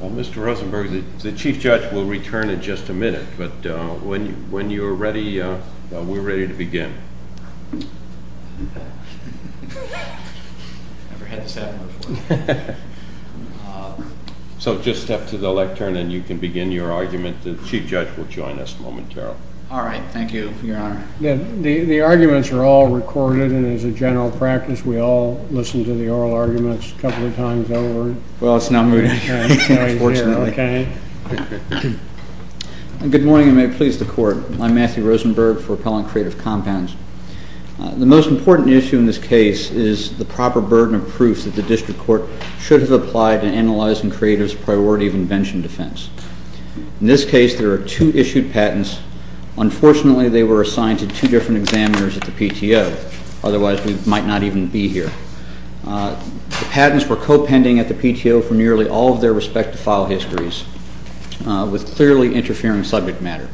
Mr. Rosenberg, the Chief Judge will return in just a minute, but when you're ready, we're ready to begin. So just step to the lectern and you can begin your argument. The Chief Judge will join us momentarily. All right. Thank you, Your Honor. The arguments are all recorded, and as a general practice, we all listen to the oral arguments a couple of times over. Well, it's not moving, unfortunately. Good morning, and may it please the Court. I'm Matthew Rosenberg for Appellant Creative Compounds. The most important issue in this case is the proper burden of proof that the District Court should have applied in analyzing CREATIVE's priority of invention defense. In this case, there are two issued patents. Unfortunately, they were assigned to two different examiners at the PTO. Otherwise, we might not even be here. The patents were co-pending at the PTO for nearly all of their respective file histories, with clearly interfering subject matter.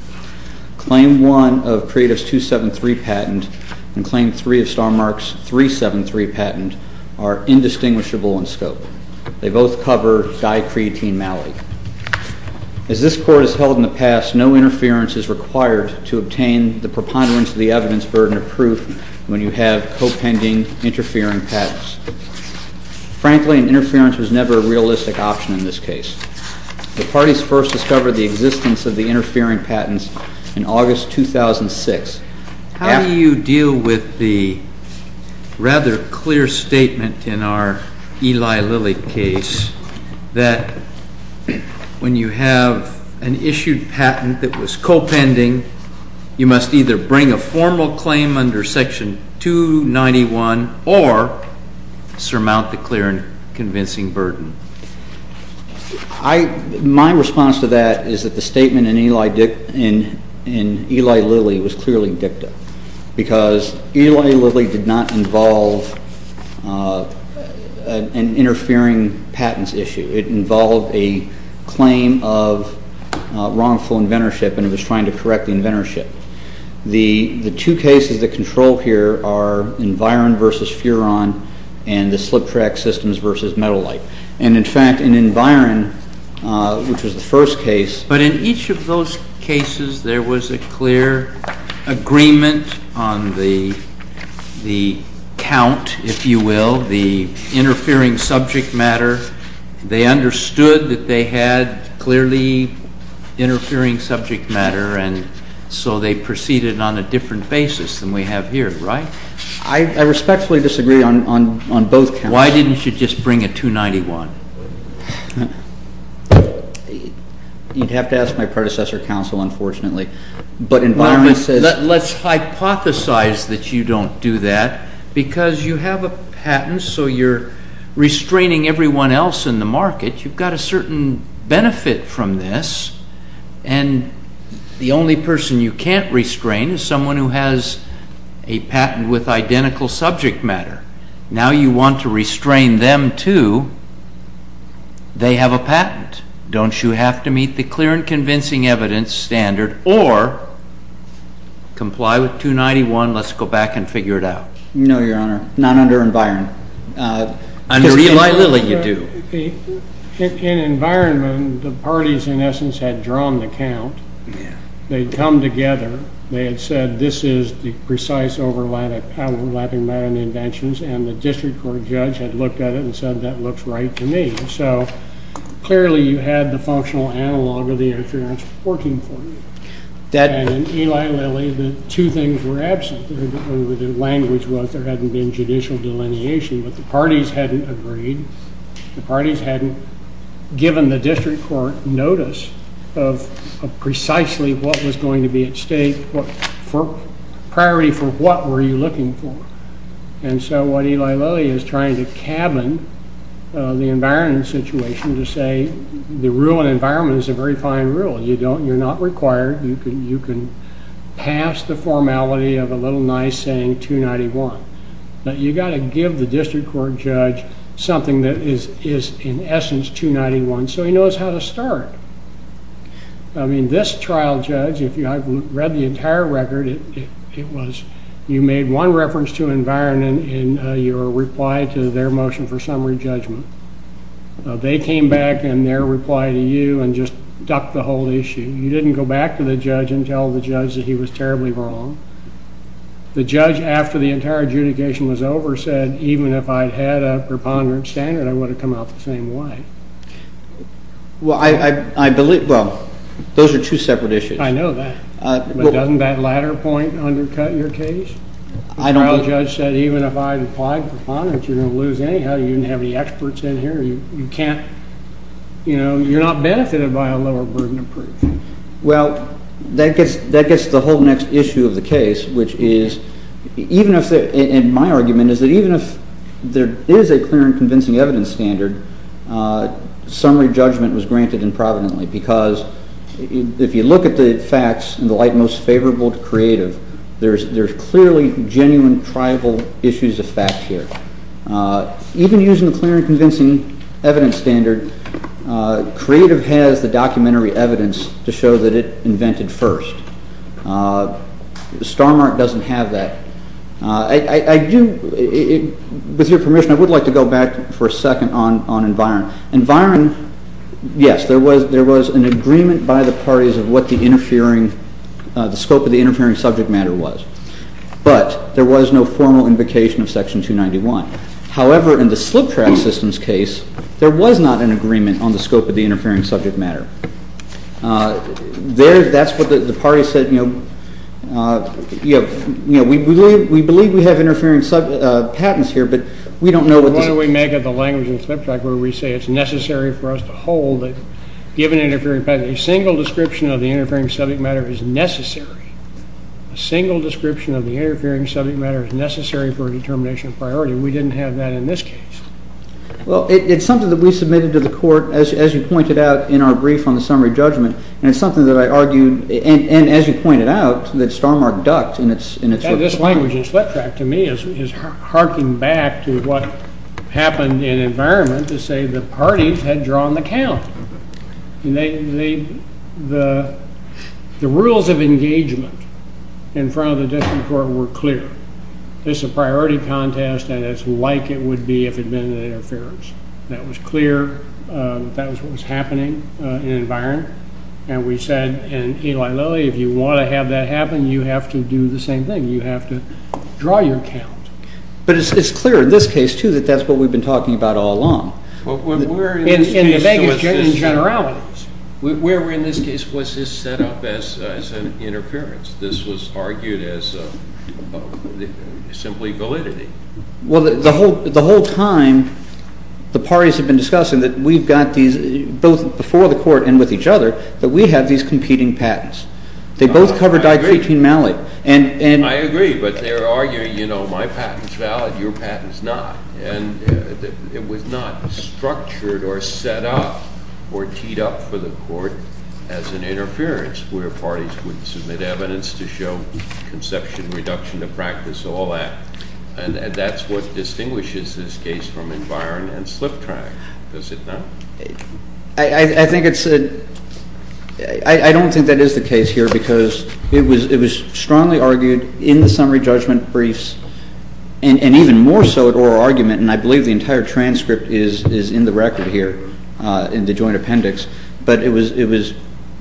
Claim 1 of CREATIVE's 273 patent and Claim 3 of STARMARK's 373 patent are indistinguishable in scope. They both cover dicreatine malady. As this Court has held in the past, no interference is required to obtain the preponderance of the evidence burden of proof when you have co-pending, interfering patents. Frankly, an interference was never a realistic option in this case. The parties first discovered the existence of the interfering patents in August 2006. How do you deal with the rather clear statement in our Eli Lilly case that when you have an issued patent that was co-pending, you must either bring a formal claim under Section 291 or surmount the clear and convincing burden? My response to that is that the statement in Eli Lilly was clearly dicta, because Eli Lilly did not involve an interfering patents issue. It involved a claim of wrongful inventorship, and it was trying to correct the inventorship. The two cases that control here are Environ v. Furon and the slip-track systems v. Metal Light. And in fact, in Environ, which was the first case— But in each of those cases there was a clear agreement on the count, if you will, the interfering subject matter. They understood that they had clearly interfering subject matter, and so they proceeded on a different basis than we have here, right? I respectfully disagree on both counts. Why didn't you just bring a 291? You'd have to ask my predecessor counsel, unfortunately. But Environment says— Well, let's hypothesize that you don't do that, because you have a patent, so you're restraining everyone else in the market. You've got a certain benefit from this, and the only person you can't restrain is someone who has a patent with identical subject matter. Now you want to restrain them too. They have a patent. Don't you have to meet the clear and convincing evidence standard or comply with 291? Let's go back and figure it out. No, Your Honor. Not under Environ. Under Eli Lilly you do. In Environment, the parties in essence had drawn the count. They'd come together. They had said this is the precise overlapping matter in the inventions, and the district court judge had looked at it and said that looks right to me. So clearly you had the functional analog of the interference working for you. And in Eli Lilly the two things were absent. The language was there hadn't been judicial delineation, but the parties hadn't agreed. The parties hadn't given the district court notice of precisely what was going to be at stake. Priority for what were you looking for? And so what Eli Lilly is trying to cabin the environment situation to say the rule in environment is a very fine rule. You're not required. You can pass the formality of a little nice saying 291. But you've got to give the district court judge something that is in essence 291 so he knows how to start. I mean this trial judge, if you haven't read the entire record, it was you made one reference to Environment in your reply to their motion for summary judgment. They came back in their reply to you and just ducked the whole issue. You didn't go back to the judge and tell the judge that he was terribly wrong. The judge after the entire adjudication was over said even if I'd had a preponderant standard, I would have come out the same way. Well, I believe, well, those are two separate issues. I know that. But doesn't that latter point undercut your case? I don't. The trial judge said even if I'd applied preponderance, you're going to lose anyhow. You didn't have any experts in here. You can't, you know, you're not benefited by a lower burden of proof. Well, that gets the whole next issue of the case, which is even if, and my argument is that even if there is a clear and convincing evidence standard, summary judgment was granted improvidently because if you look at the facts in the light most favorable to creative, there's clearly genuine tribal issues of fact here. Even using the clear and convincing evidence standard, creative has the documentary evidence to show that it invented first. Starmark doesn't have that. I do, with your permission, I would like to go back for a second on Environ. Environ, yes, there was an agreement by the parties of what the interfering, the scope of the interfering subject matter was. But there was no formal invocation of Section 291. However, in the slip track systems case, there was not an agreement on the scope of the interfering subject matter. There, that's what the parties said, you know, we believe we have interfering sub, patents here, but we don't know what this. Why don't we make it the language of the slip track where we say it's necessary for us to hold that given interfering patent, a single description of the interfering subject matter is necessary. A single description of the interfering subject matter is necessary for a determination of priority. We didn't have that in this case. Well, it's something that we submitted to the court, as you pointed out in our brief on the summary judgment, and it's something that I argued, and as you pointed out, that Starmark ducked in its, in its. And this language in slip track to me is harking back to what happened in Environment to say the parties had drawn the count. And they, the, the rules of engagement in front of the District Court were clear. This is a priority contest, and it's like it would be if it had been an interference. That was clear. That was what was happening in Environment. And we said, and Eli Lilly, if you want to have that happen, you have to do the same thing. You have to draw your count. But it's, it's clear in this case, too, that that's what we've been talking about all along. Well, we're. In, in the Vegas Generalities. Where we're in this case was just set up as, as an interference. This was argued as a, simply validity. Well, the whole, the whole time the parties have been discussing that we've got these, both before the Court and with each other, that we have these competing patents. They both cover. I agree. Between Mallet and, and. I agree, but they're arguing, you know, my patent's valid, your patent's not. And it was not structured or set up or teed up for the Court as an interference where parties would submit evidence to show conception, reduction of practice, all that. And, and that's what distinguishes this case from Environ and SlipTrack, does it not? I, I think it's a, I, I don't think that is the case here because it was, it was strongly argued in the summary judgment briefs and, and even more so at oral argument. And I believe the entire transcript is, is in the record here in the joint appendix. But it was, it was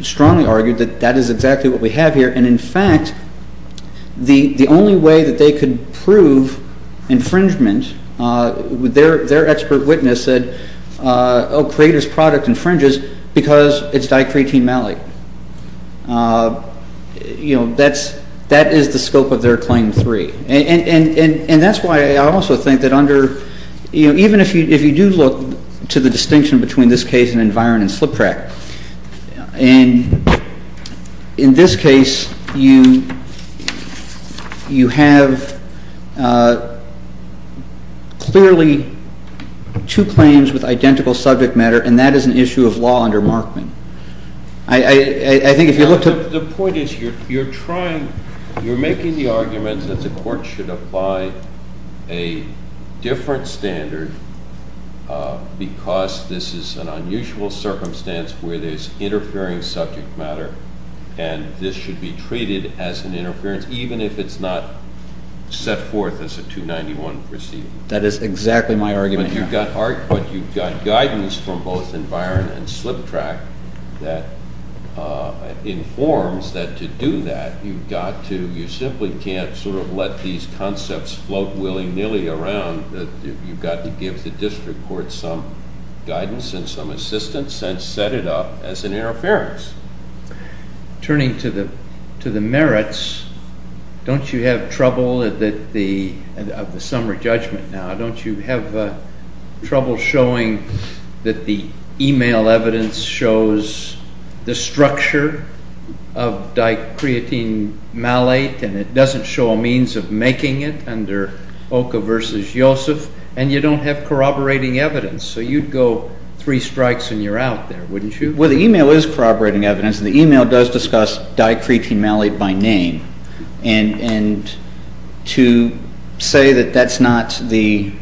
strongly argued that that is exactly what we have here. And in fact, the, the only way that they could prove infringement, their, their expert witness said, oh, Creator's product infringes because it's di-creatine malate. You know, that's, that is the scope of their Claim 3. And, and, and, and that's why I also think that under, you know, even if you, if you do look to the distinction between this case and Environ and SlipTrack, and in this case you, you have clearly two claims with identical subject matter, and that is an issue of law under Markman. I, I, I think if you look to- The point is you're, you're trying, you're making the argument that the Court should apply a different standard because this is an unusual circumstance where there's interfering subject matter, and this should be treated as an interference, even if it's not set forth as a 291 proceeding. That is exactly my argument here. But you've got, but you've got guidance from both Environ and SlipTrack that informs that to do that, you've got to, you simply can't sort of let these concepts float willy-nilly around, that you've got to give the District Court some guidance and some assistance and set it up as an interference. Turning to the, to the merits, don't you have trouble that the, of the summary judgment now, don't you have trouble showing that the e-mail evidence shows the structure of dicreatine malate and it doesn't show a means of making it under Oka versus Yosef, and you don't have corroborating evidence, so you'd go three strikes and you're out there, wouldn't you? Well, the e-mail is corroborating evidence, and the e-mail does discuss dicreatine malate by name, and, and to say that that's not the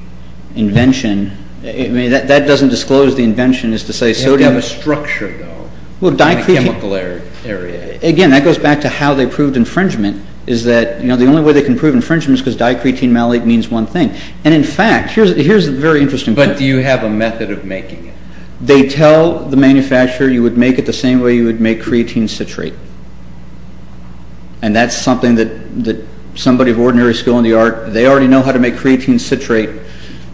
invention, I mean, that doesn't disclose the invention is to say sodium. You have a structure, though, in the chemical area. Again, that goes back to how they proved infringement, is that, you know, the only way they can prove infringement is because dicreatine malate means one thing. And in fact, here's a very interesting point. But do you have a method of making it? They tell the manufacturer you would make it the same way you would make creatine citrate. And that's something that somebody of ordinary skill in the art, they already know how to make creatine citrate,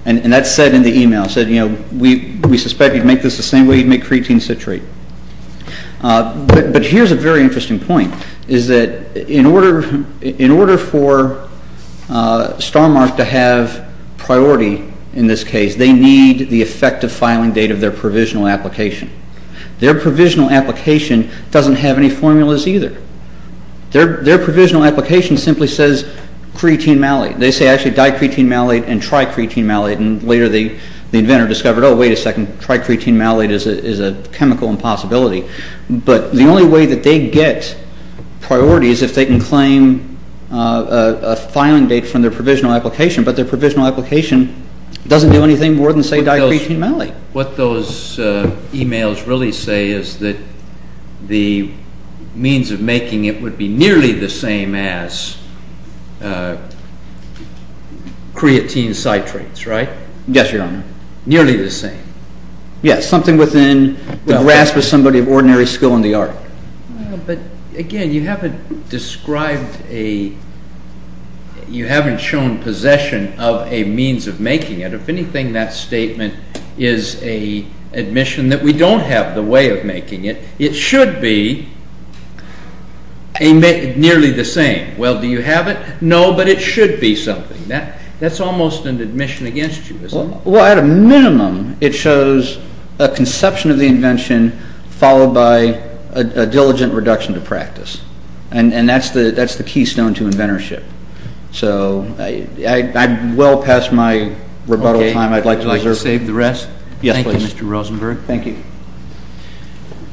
and that's said in the e-mail, said, you know, we suspect you'd make this the same way you'd make creatine citrate. But here's a very interesting point, is that in order for Starmark to have priority in this case, they need the effective filing date of their provisional application. Their provisional application doesn't have any formulas either. Their provisional application simply says creatine malate. They say actually dicreatine malate and tricreatine malate. And later the inventor discovered, oh, wait a second, tricreatine malate is a chemical impossibility. But the only way that they get priority is if they can claim a filing date from their provisional application. But their provisional application doesn't do anything more than say dicreatine malate. What those e-mails really say is that the means of making it would be nearly the same as creatine citrates, right? Yes, Your Honor. Nearly the same? Yes, something within the grasp of somebody of ordinary skill in the art. But, again, you haven't described a, you haven't shown possession of a means of making it. If anything, that statement is an admission that we don't have the way of making it. It should be nearly the same. Well, do you have it? No, but it should be something. That's almost an admission against you, isn't it? Well, at a minimum, it shows a conception of the invention followed by a diligent reduction to practice. And that's the keystone to inventorship. So I'm well past my rebuttal time. I'd like to reserve. Okay. Would you like to save the rest? Yes, please. Thank you, Mr. Rosenberg. Thank you.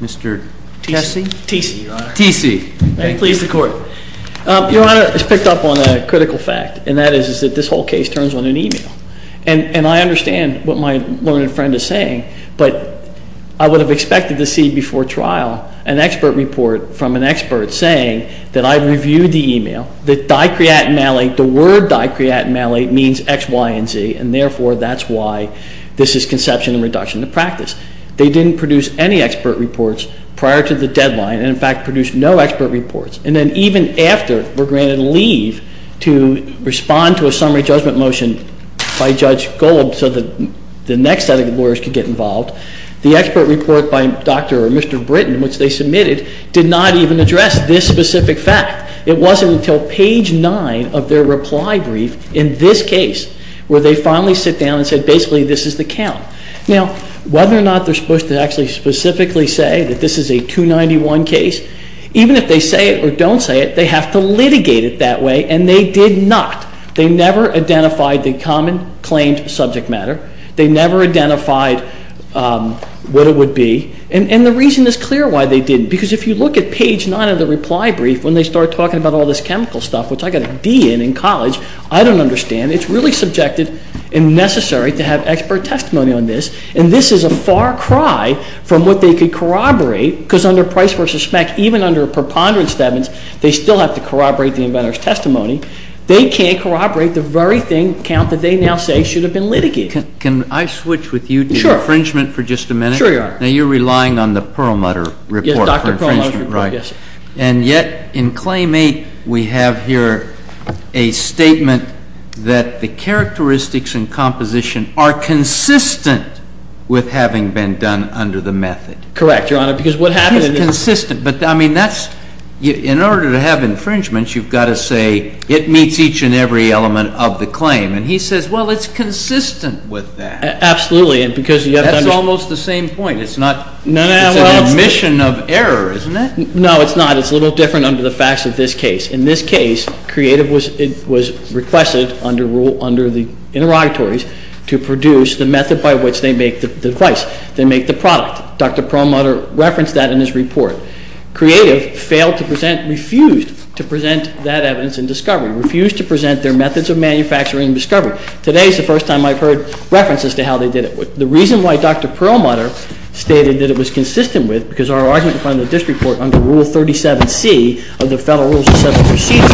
Mr. Tesi? Tesi, Your Honor. Tesi. May it please the Court. Your Honor, it's picked up on a critical fact, and that is that this whole case turns on an e-mail. And I understand what my learned friend is saying, but I would have expected to see before trial an expert report from an expert saying that I reviewed the e-mail, that dicreat and malleate, the word dicreat and malleate means X, Y, and Z, and therefore that's why this is conception and reduction to practice. They didn't produce any expert reports prior to the deadline, and in fact produced no expert reports. And then even after we're granted leave to respond to a summary judgment motion by Judge Golub so that the next set of lawyers could get involved, the expert report by Dr. or Mr. Britton, which they submitted, did not even address this specific fact. It wasn't until page 9 of their reply brief in this case where they finally sit down and say basically this is the count. Now, whether or not they're supposed to actually specifically say that this is a 291 case, even if they say it or don't say it, they have to litigate it that way, and they did not. They never identified the common claimed subject matter. They never identified what it would be. And the reason is clear why they didn't, because if you look at page 9 of the reply brief when they start talking about all this chemical stuff, which I got a D in in college, I don't understand. It's really subjective and necessary to have expert testimony on this, and this is a far cry from what they could corroborate, because under Price v. Schmack, even under preponderance statements, they still have to corroborate the inventor's testimony. They can't corroborate the very thing, count that they now say should have been litigated. Can I switch with you to infringement for just a minute? Sure, Your Honor. Now, you're relying on the Perlmutter report for infringement, right? Yes, Dr. Perlmutter's report, yes. And yet, in claim 8, we have here a statement that the characteristics and composition are consistent with having been done under the method. Correct, Your Honor, because what happened is- It's consistent, but, I mean, that's, in order to have infringements, you've got to say it meets each and every element of the claim. And he says, well, it's consistent with that. Absolutely, and because you have to- It's the same point. It's an admission of error, isn't it? No, it's not. It's a little different under the facts of this case. In this case, Creative was requested under the interrogatories to produce the method by which they make the device, they make the product. Dr. Perlmutter referenced that in his report. Creative failed to present, refused to present that evidence in discovery, refused to present their methods of manufacturing discovery. Today is the first time I've heard references to how they did it. The reason why Dr. Perlmutter stated that it was consistent with, because our argument defined in the District Court under Rule 37C of the Federal Rules of Settlement Procedure,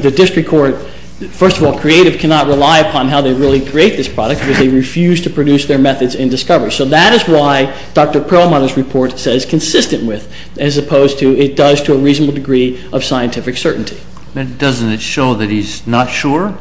the District Court, first of all, Creative cannot rely upon how they really create this product because they refuse to produce their methods in discovery. So that is why Dr. Perlmutter's report says consistent with, as opposed to it does to a reasonable degree of scientific certainty. Doesn't it show that he's not sure?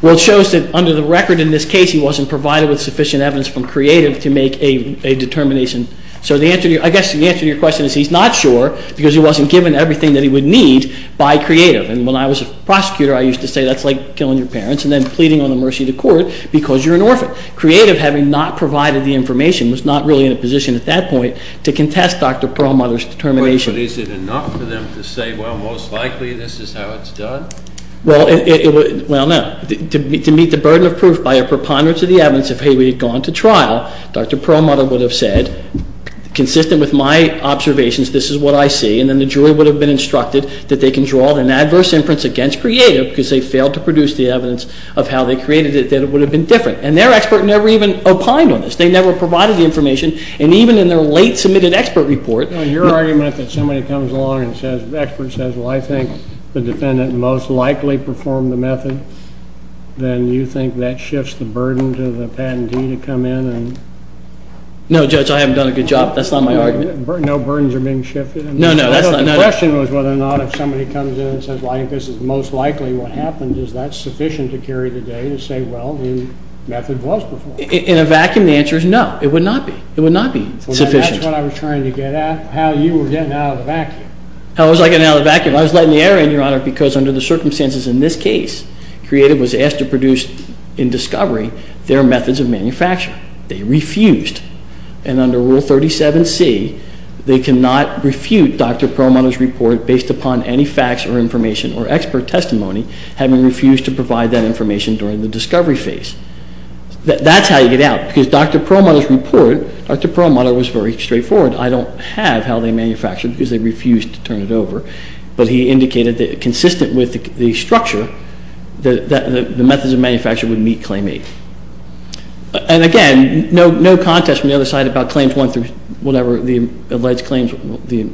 Well, it shows that under the record in this case, he wasn't provided with sufficient evidence from Creative to make a determination. So I guess the answer to your question is he's not sure because he wasn't given everything that he would need by Creative. And when I was a prosecutor, I used to say that's like killing your parents and then pleading on the mercy of the court because you're an orphan. Creative, having not provided the information, was not really in a position at that point to contest Dr. Perlmutter's determination. But is it enough for them to say, well, most likely this is how it's done? Well, no. To meet the burden of proof by a preponderance of the evidence, if he had gone to trial, Dr. Perlmutter would have said, consistent with my observations, this is what I see. And then the jury would have been instructed that they can draw an adverse inference against Creative because they failed to produce the evidence of how they created it, that it would have been different. And their expert never even opined on this. They never provided the information. And even in their late submitted expert report. Your argument that somebody comes along and says, the expert says, well, I think the defendant most likely performed the method, then you think that shifts the burden to the patentee to come in and? No, Judge. I haven't done a good job. That's not my argument. No burdens are being shifted? No, no. The question was whether or not if somebody comes in and says, well, I think this is most likely what happened, is that sufficient to carry the day to say, well, the method was performed? In a vacuum, the answer is no. It would not be. It would not be sufficient. That's what I was trying to get at, how you were getting out of the vacuum. How was I getting out of the vacuum? I was letting the air in, Your Honor, because under the circumstances in this case, Creative was asked to produce in discovery their methods of manufacturing. They refused. And under Rule 37C, they cannot refute Dr. Perlmutter's report based upon any facts or information or expert testimony, having refused to provide that information during the discovery phase. That's how you get out. Because Dr. Perlmutter's report, Dr. Perlmutter was very straightforward. I don't have how they manufactured because they refused to turn it over. But he indicated that consistent with the structure, the methods of manufacturing would meet Claim 8. And, again, no contest from the other side about Claims 1 through whatever the alleged claims, the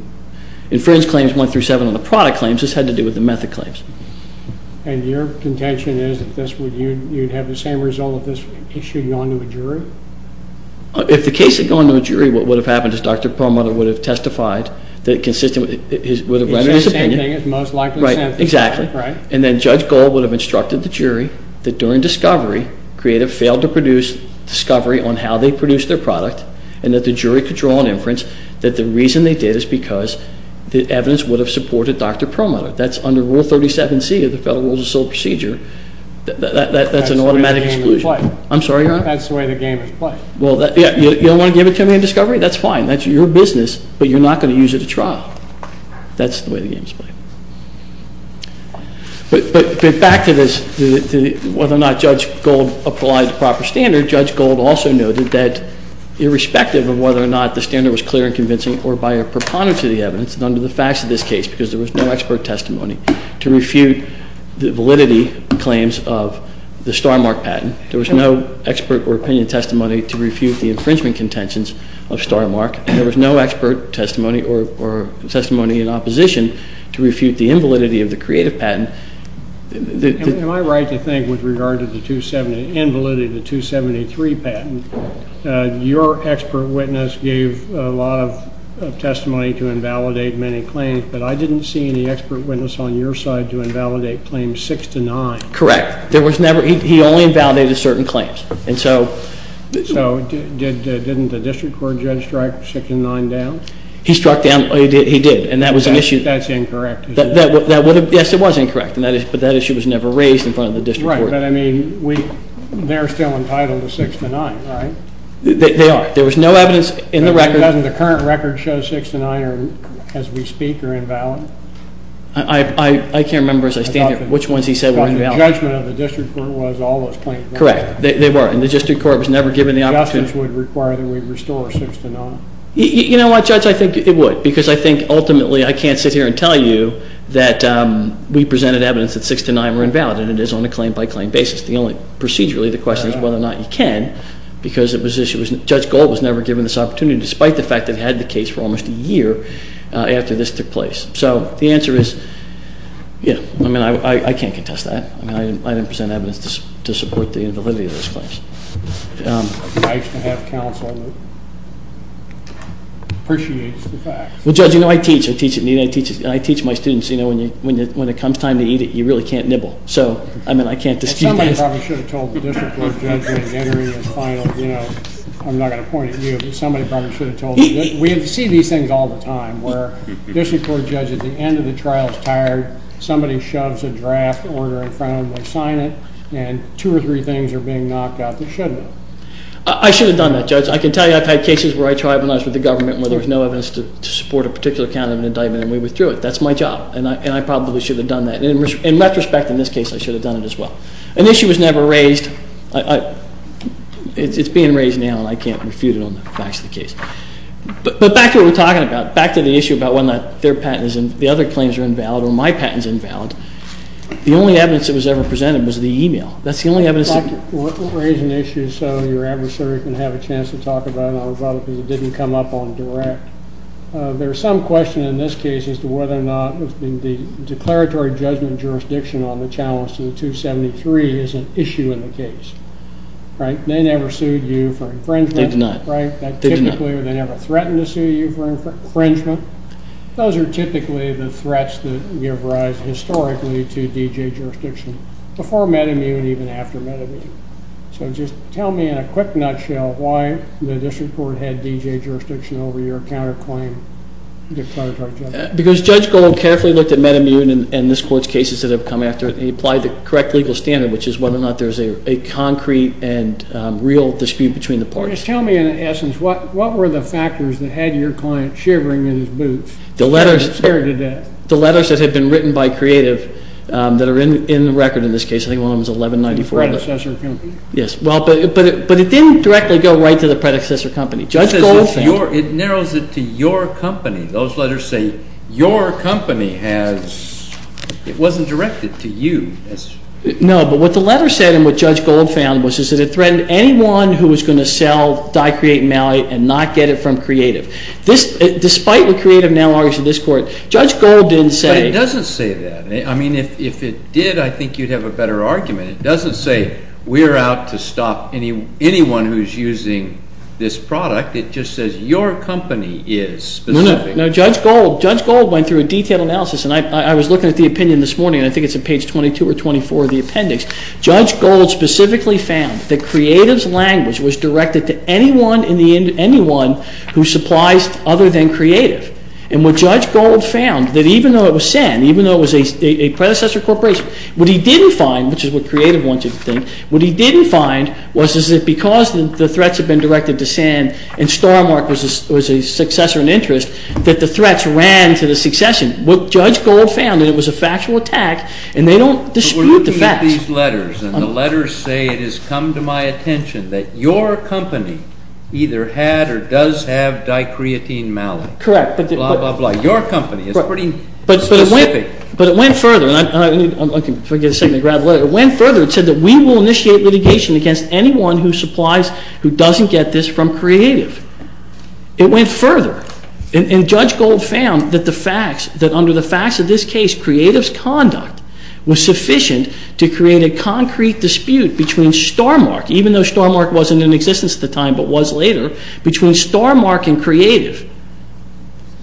inference claims 1 through 7 on the product claims. This had to do with the method claims. And your contention is that you'd have the same result if this issue had gone to a jury? If the case had gone to a jury, what would have happened is Dr. Perlmutter would have testified that consistent with his opinion. He'd say the same thing as most likely the same thing. Right, exactly. And then Judge Gold would have instructed the jury that during discovery, Creative failed to produce discovery on how they produced their product and that the jury could draw an inference that the reason they did is because the evidence would have supported Dr. Perlmutter. That's under Rule 37C of the Federal Rules of Civil Procedure. That's an automatic exclusion. That's the way the game is played. I'm sorry, Your Honor? That's the way the game is played. You don't want to give it to me in discovery? That's fine. That's your business, but you're not going to use it at trial. That's the way the game is played. But back to this, whether or not Judge Gold applied the proper standard, Judge Gold also noted that irrespective of whether or not the standard was clear and convincing or by a preponderance of the evidence, and under the facts of this case, because there was no expert testimony to refute the validity claims of the Starmark patent, there was no expert or opinion testimony to refute the infringement contentions of Starmark, and there was no expert testimony or testimony in opposition to refute the invalidity of the Creative patent. Am I right to think with regard to the invalidity of the 273 patent, your expert witness gave a lot of testimony to invalidate many claims, but I didn't see any expert witness on your side to invalidate claims 6 to 9. Correct. He only invalidated certain claims. So didn't the district court judge strike 6 to 9 down? He struck down. He did, and that was an issue. That's incorrect. Yes, it was incorrect, but that issue was never raised in front of the district court. But, I mean, they're still entitled to 6 to 9, right? They are. There was no evidence in the record. Doesn't the current record show 6 to 9 as we speak are invalid? I can't remember as I stand here which ones he said were invalid. The judgment of the district court was all those claims were invalid. Correct. They were, and the district court was never given the opportunity. Justice would require that we restore 6 to 9. You know what, Judge? I think it would, because I think ultimately I can't sit here and tell you that we presented evidence that 6 to 9 were invalid, and it is on a claim-by-claim basis. Procedurally, the question is whether or not you can, because Judge Gold was never given this opportunity, despite the fact that he had the case for almost a year after this took place. So the answer is, you know, I mean, I can't contest that. I mean, I didn't present evidence to support the invalidity of those claims. I just don't have counsel that appreciates the facts. Well, Judge, you know, I teach. I teach my students, you know, when it comes time to eat it, you really can't nibble. So, I mean, I can't dispute that. Somebody probably should have told the district court judge when entering his final, you know, I'm not going to point at you, but somebody probably should have told him. We see these things all the time, where the district court judge, at the end of the trial, is tired. Somebody shoves a draft order in front of him. They sign it, and two or three things are being knocked out that shouldn't have. I should have done that, Judge. I can tell you I've had cases where I tribunalized with the government where there was no evidence to support a particular kind of an indictment, and we withdrew it. That's my job, and I probably should have done that. In retrospect, in this case, I should have done it as well. An issue was never raised. It's being raised now, and I can't refute it on the facts of the case. But back to what we're talking about, back to the issue about whether or not their patent is invalid, the other claims are invalid, or my patent is invalid. The only evidence that was ever presented was the e-mail. That's the only evidence. We're raising the issue so your adversary can have a chance to talk about it, and I'll rebut it because it didn't come up on direct. There's some question in this case as to whether or not the declaratory judgment jurisdiction on the challenge to the 273 is an issue in the case. Right? They never sued you for infringement. They did not. Right? They never threatened to sue you for infringement. Those are typically the threats that give rise historically to D.J. jurisdiction before Medi-Mu and even after Medi-Mu. So just tell me in a quick nutshell why the district court had D.J. jurisdiction over your counterclaim declaratory judgment. Because Judge Gold carefully looked at Medi-Mu and this court's cases that have come after it, and he applied the correct legal standard, which is whether or not there's a concrete and real dispute between the parties. Just tell me, in essence, what were the factors that had your client shivering in his boots? The letters that had been written by creative that are in the record in this case. I think one of them is 1194. The predecessor company? Yes. But it didn't directly go right to the predecessor company. Judge Gold found it. It narrows it to your company. Those letters say your company has ‑‑ it wasn't directed to you. No, but what the letter said and what Judge Gold found was that it threatened anyone who was going to sell die-creating malate and not get it from creative. Despite what creative now argues in this court, Judge Gold didn't say. But it doesn't say that. I mean, if it did, I think you'd have a better argument. It doesn't say we're out to stop anyone who's using this product. It just says your company is specific. No, Judge Gold went through a detailed analysis, and I was looking at the opinion this morning, and I think it's on page 22 or 24 of the appendix. Judge Gold specifically found that creative's language was directed to anyone who supplies other than creative. And what Judge Gold found, that even though it was SAN, even though it was a predecessor corporation, what he didn't find, which is what creative wanted to think, what he didn't find was that because the threats had been directed to SAN and Starmark was a successor in interest, that the threats ran to the succession. What Judge Gold found, and it was a factual attack, and they don't dispute the facts. But we're looking at these letters, and the letters say it has come to my attention that your company either had or does have die-creatine malate. Correct. Blah, blah, blah. Your company is pretty specific. But it went further. If I can get a second to grab a letter. It went further. It said that we will initiate litigation against anyone who supplies, who doesn't get this from creative. It went further. And Judge Gold found that the facts, that under the facts of this case, creative's conduct was sufficient to create a concrete dispute between Starmark, even though Starmark wasn't in existence at the time but was later, between Starmark and creative.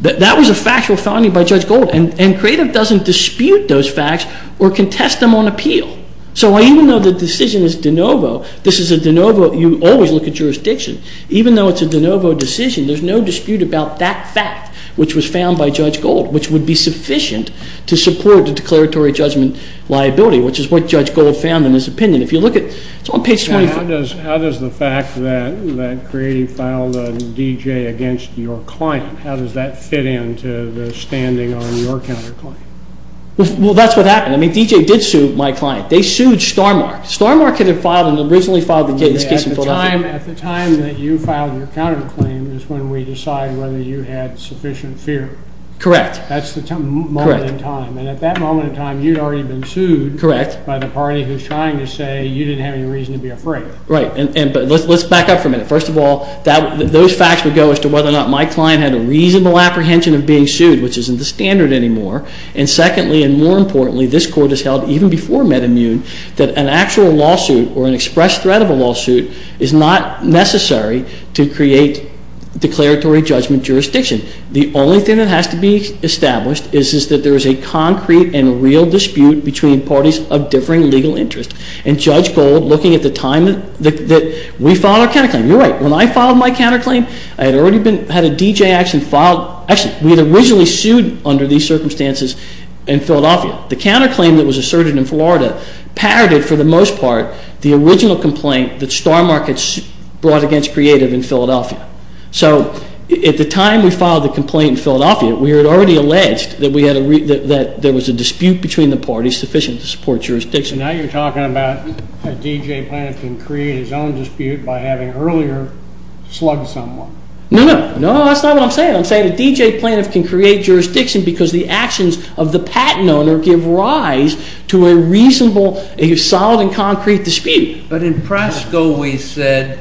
That was a factual finding by Judge Gold. And creative doesn't dispute those facts or contest them on appeal. So even though the decision is de novo, this is a de novo, you always look at jurisdiction. Even though it's a de novo decision, there's no dispute about that fact, which was found by Judge Gold, which would be sufficient to support the declaratory judgment liability, which is what Judge Gold found in his opinion. If you look at, it's on page 25. How does the fact that creative filed a D.J. against your client, how does that fit into the standing on your counterclaim? Well, that's what happened. I mean, D.J. did sue my client. They sued Starmark. Starmark had filed and originally filed this case in Philadelphia. At the time that you filed your counterclaim is when we decide whether you had sufficient fear. Correct. That's the moment in time. And at that moment in time, you'd already been sued. Correct. By the party who's trying to say you didn't have any reason to be afraid. Right. But let's back up for a minute. First of all, those facts would go as to whether or not my client had a reasonable apprehension of being sued, which isn't the standard anymore. And secondly, and more importantly, this court has held even before MedImmune that an actual lawsuit or an express threat of a lawsuit is not necessary to create declaratory judgment jurisdiction. The only thing that has to be established is that there is a concrete and real dispute between parties of differing legal interests. And Judge Gold, looking at the time that we filed our counterclaim, you're right. When I filed my counterclaim, I had already had a D.J. action filed. Actually, we had originally sued under these circumstances in Philadelphia. The counterclaim that was asserted in Florida parroted, for the most part, the original complaint that Starmark had brought against Creative in Philadelphia. So at the time we filed the complaint in Philadelphia, we had already alleged that there was a dispute between the parties sufficient to support jurisdiction. Now you're talking about a D.J. plaintiff can create his own dispute by having earlier slugged someone. No, no. No, that's not what I'm saying. I'm saying a D.J. plaintiff can create jurisdiction because the actions of the patent owner give rise to a reasonable, a solid and concrete dispute. But in Prasco, we said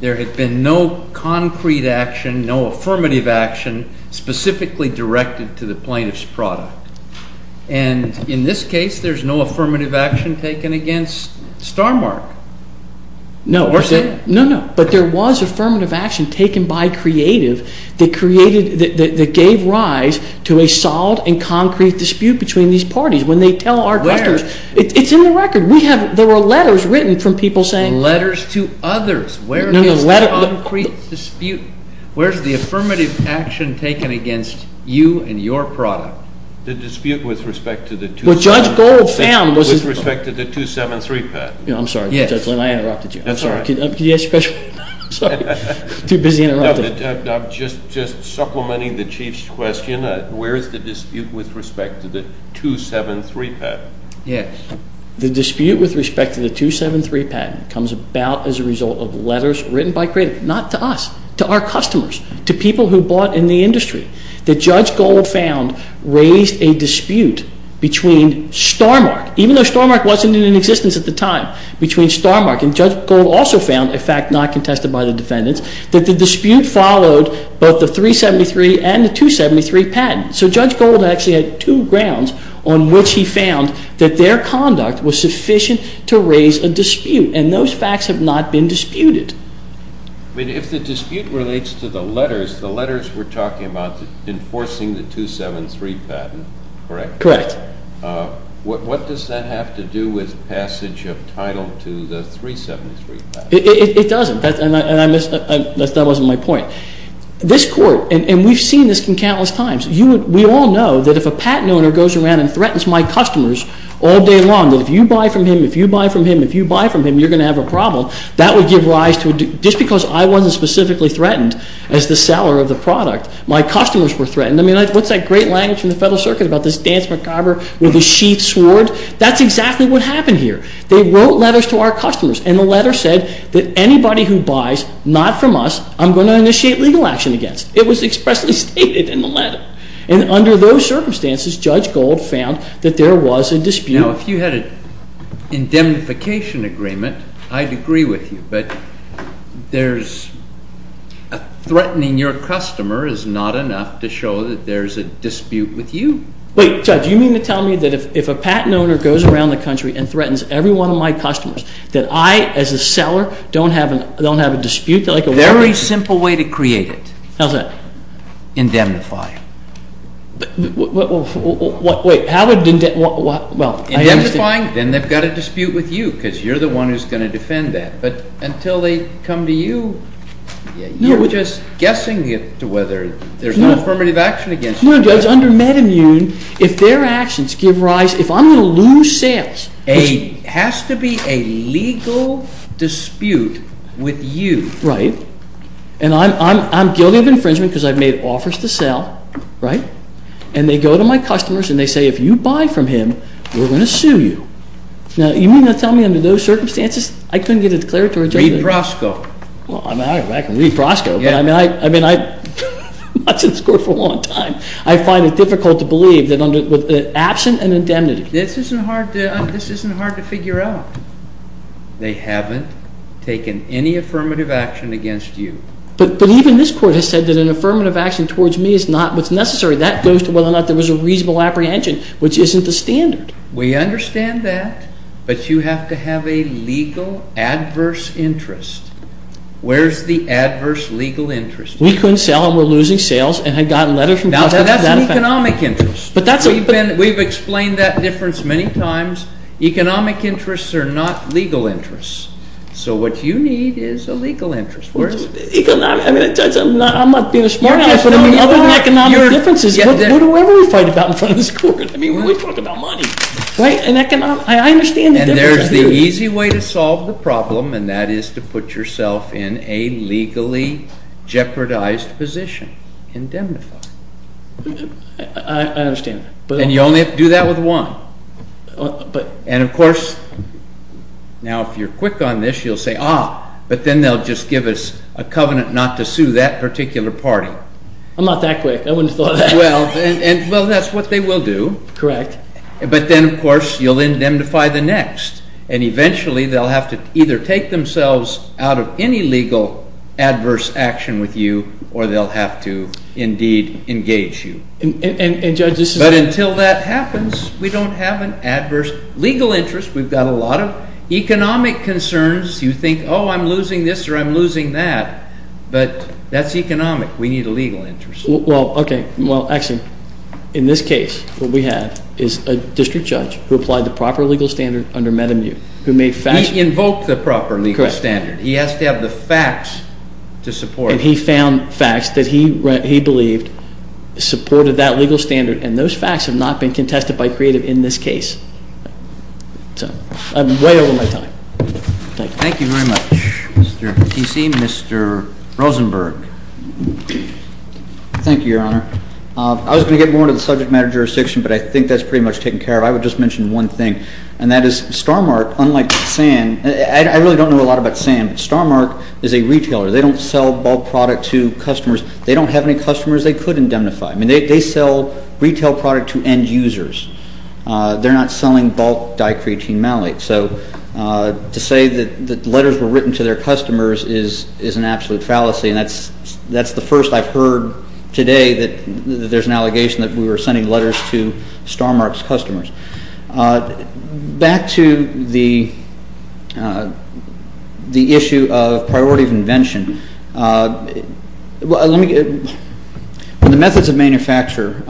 there had been no concrete action, no affirmative action, specifically directed to the plaintiff's product. And in this case, there's no affirmative action taken against Starmark. No, no, no. But there was affirmative action taken by Creative that gave rise to a solid and concrete dispute between these parties. When they tell our customers, it's in the record. There were letters written from people saying. Letters to others. Where is the concrete dispute? Where is the affirmative action taken against you and your product? The dispute with respect to the 273 patent. I'm sorry, Judge Lynn. I interrupted you. That's all right. I'm sorry. Too busy interrupting. I'm just supplementing the Chief's question. Where is the dispute with respect to the 273 patent? Yes. The dispute with respect to the 273 patent comes about as a result of letters written by Creative. Not to us. To our customers. To people who bought in the industry. That Judge Gold found raised a dispute between Starmark, even though Starmark wasn't in existence at the time, between Starmark. And Judge Gold also found, a fact not contested by the defendants, that the dispute followed both the 373 and the 273 patent. So Judge Gold actually had two grounds on which he found that their conduct was sufficient to raise a dispute. And those facts have not been disputed. If the dispute relates to the letters, the letters were talking about enforcing the 273 patent, correct? Correct. What does that have to do with passage of title to the 373 patent? It doesn't. That wasn't my point. This Court, and we've seen this countless times, we all know that if a patent owner goes around and threatens my customers all day long, that if you buy from him, if you buy from him, if you buy from him, you're going to have a problem, that would give rise to a dispute. Just because I wasn't specifically threatened as the seller of the product, my customers were threatened. I mean, what's that great language from the Federal Circuit about this dance macabre with a sheathed sword? That's exactly what happened here. They wrote letters to our customers, and the letter said that anybody who buys not from us, I'm going to initiate legal action against. It was expressly stated in the letter. And under those circumstances, Judge Gold found that there was a dispute. Now, if you had an indemnification agreement, I'd agree with you, but threatening your customer is not enough to show that there's a dispute with you. Wait, Judge, you mean to tell me that if a patent owner goes around the country and threatens every one of my customers, that I, as a seller, don't have a dispute? Very simple way to create it. How's that? Indemnify. Wait, how would indemnify? Indemnifying, then they've got a dispute with you, because you're the one who's going to defend that. But until they come to you, you're just guessing it to whether there's no affirmative action against you. No, Judge, under MedImmune, if their actions give rise, if I'm going to lose sales... It has to be a legal dispute with you. Right. And I'm guilty of infringement because I've made offers to sell, right? And they go to my customers, and they say, if you buy from him, we're going to sue you. Now, you mean to tell me under those circumstances, I couldn't get a declaratory judgment? Read Prosko. Well, I can read Prosko, but I mean, I've been watching this Court for a long time. I find it difficult to believe that with the absent an indemnity... This isn't hard to figure out. They haven't taken any affirmative action against you. But even this Court has said that an affirmative action towards me is not what's necessary. That goes to whether or not there was a reasonable apprehension, which isn't the standard. We understand that, but you have to have a legal adverse interest. Where's the adverse legal interest? We couldn't sell, and we're losing sales, and I got a letter from Prosko to that effect. Now, that's an economic interest. We've explained that difference many times. Economic interests are not legal interests. So what you need is a legal interest. I'm not being a smart-ass, but other than economic differences, what do we fight about in front of this Court? I mean, we talk about money. I understand the difference. And there's the easy way to solve the problem, and that is to put yourself in a legally jeopardized position, indemnified. I understand. And you only have to do that with one. And, of course, now if you're quick on this, you'll say, ah, but then they'll just give us a covenant not to sue that particular party. I'm not that quick. I wouldn't have thought of that. Well, that's what they will do. Correct. But then, of course, you'll indemnify the next. And eventually they'll have to either take themselves out of any legal adverse action with you, or they'll have to indeed engage you. And, Judge, this is… But until that happens, we don't have an adverse legal interest. We've got a lot of economic concerns. You think, oh, I'm losing this or I'm losing that. But that's economic. We need a legal interest. Well, okay. Well, actually, in this case, what we have is a district judge who applied the proper legal standard under Metamu, who made facts… He invoked the proper legal standard. Correct. He has to have the facts to support it. And he found facts that he believed supported that legal standard, and those facts have not been contested by creative in this case. So I'm way over my time. Thank you. Thank you very much, Mr. Casey. Mr. Rosenberg. Thank you, Your Honor. I was going to get more into the subject matter jurisdiction, but I think that's pretty much taken care of. I would just mention one thing, and that is Starmark, unlike SAN, I really don't know a lot about SAN, but Starmark is a retailer. They don't sell bulk product to customers. They don't have any customers they could indemnify. I mean, they sell retail product to end users. They're not selling bulk dicreatine malate. So to say that letters were written to their customers is an absolute fallacy, and that's the first I've heard today that there's an allegation that we were sending letters to Starmark's customers. Back to the issue of priority of invention. In the methods of manufacture,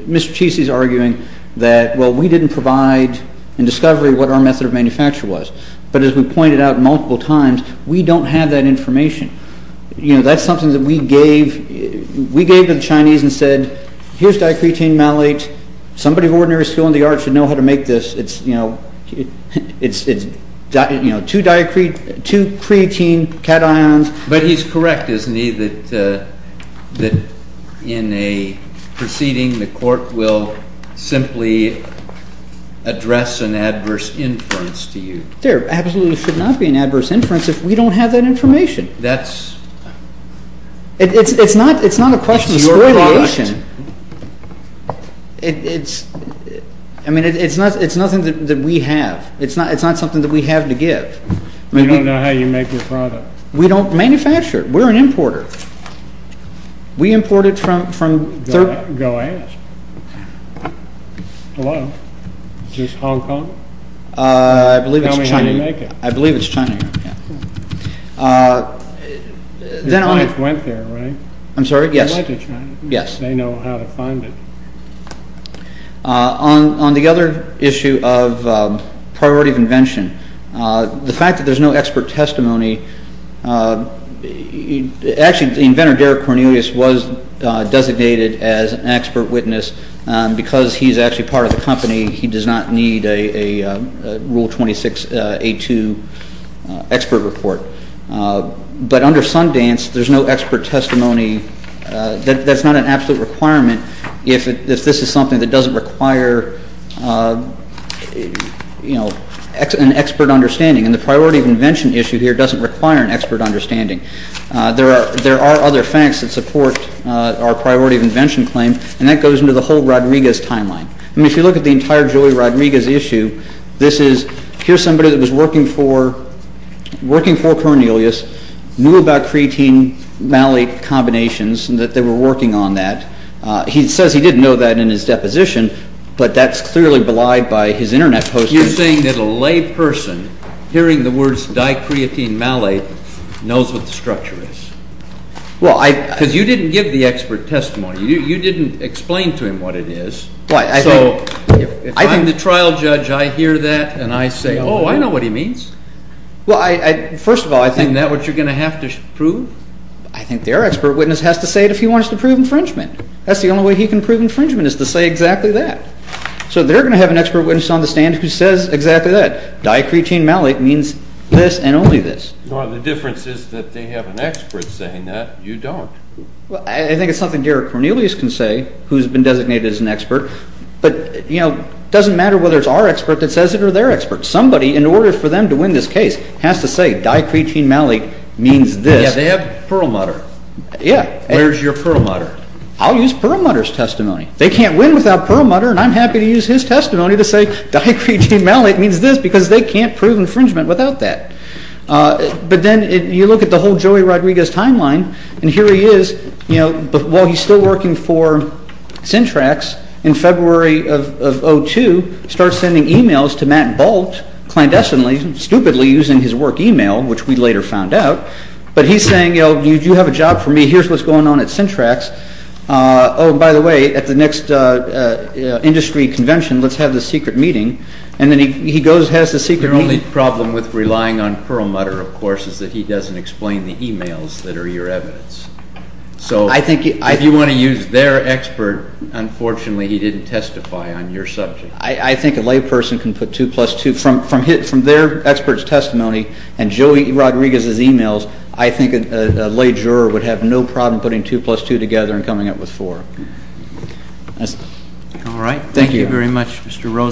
Mr. Casey is arguing that, well, we didn't provide in discovery what our method of manufacture was, but as we pointed out multiple times, we don't have that information. That's something that we gave to the Chinese and said, here's dicreatine malate. Somebody of ordinary skill in the arts should know how to make this. It's two creatine cations. But he's correct, isn't he, that in a proceeding, the court will simply address an adverse inference to you. There absolutely should not be an adverse inference if we don't have that information. That's your product. It's not a question of spoiliation. Again, it's nothing that we have. It's not something that we have to give. You don't know how you make your product. We don't manufacture it. We're an importer. We import it from... Go ask. Hello. Is this Hong Kong? I believe it's China. Tell me how you make it. I believe it's China. Your clients went there, right? I'm sorry, yes. They know how to find it. On the other issue of priority of invention, the fact that there's no expert testimony... Actually, the inventor, Derek Cornelius, was designated as an expert witness. Because he's actually part of the company, he does not need a Rule 26A2 expert report. But under Sundance, there's no expert testimony. That's not an absolute requirement if this is something that doesn't require an expert understanding. And the priority of invention issue here doesn't require an expert understanding. There are other facts that support our priority of invention claim, and that goes into the whole Rodriguez timeline. I mean, if you look at the entire Julie Rodriguez issue, this is... Here's somebody that was working for Cornelius, knew about creatine-malate combinations, and that they were working on that. He says he didn't know that in his deposition, but that's clearly belied by his Internet post. You're saying that a lay person, hearing the words di-creatine-malate, knows what the structure is? Well, I... Because you didn't give the expert testimony. You didn't explain to him what it is. Well, I think... So if I'm the trial judge, I hear that, and I say, oh, I know what he means. Well, I... First of all, I think... Isn't that what you're going to have to prove? I think their expert witness has to say it if he wants to prove infringement. That's the only way he can prove infringement is to say exactly that. So they're going to have an expert witness on the stand who says exactly that. Di-creatine-malate means this and only this. Well, the difference is that they have an expert saying that. You don't. I think it's something Derek Cornelius can say, who's been designated as an expert. But, you know, it doesn't matter whether it's our expert that says it or their expert. Somebody, in order for them to win this case, has to say di-creatine-malate means this. Yeah, they have Perlmutter. Yeah. Where's your Perlmutter? I'll use Perlmutter's testimony. They can't win without Perlmutter, and I'm happy to use his testimony to say di-creatine-malate means this because they can't prove infringement without that. But then you look at the whole Joey Rodriguez timeline, and here he is. You know, while he's still working for Syntrax, in February of 2002, starts sending e-mails to Matt Bolt, clandestinely, stupidly using his work e-mail, which we later found out. But he's saying, you know, you have a job for me. Here's what's going on at Syntrax. Oh, and by the way, at the next industry convention, let's have this secret meeting. And then he goes, has this secret meeting. The only problem with relying on Perlmutter, of course, is that he doesn't explain the e-mails that are your evidence. So if you want to use their expert, unfortunately, he didn't testify on your subject. I think a layperson can put 2 plus 2. From their expert's testimony and Joey Rodriguez's e-mails, I think a lay juror would have no problem putting 2 plus 2 together and coming up with 4. All right. Thank you very much, Mr. Rosen.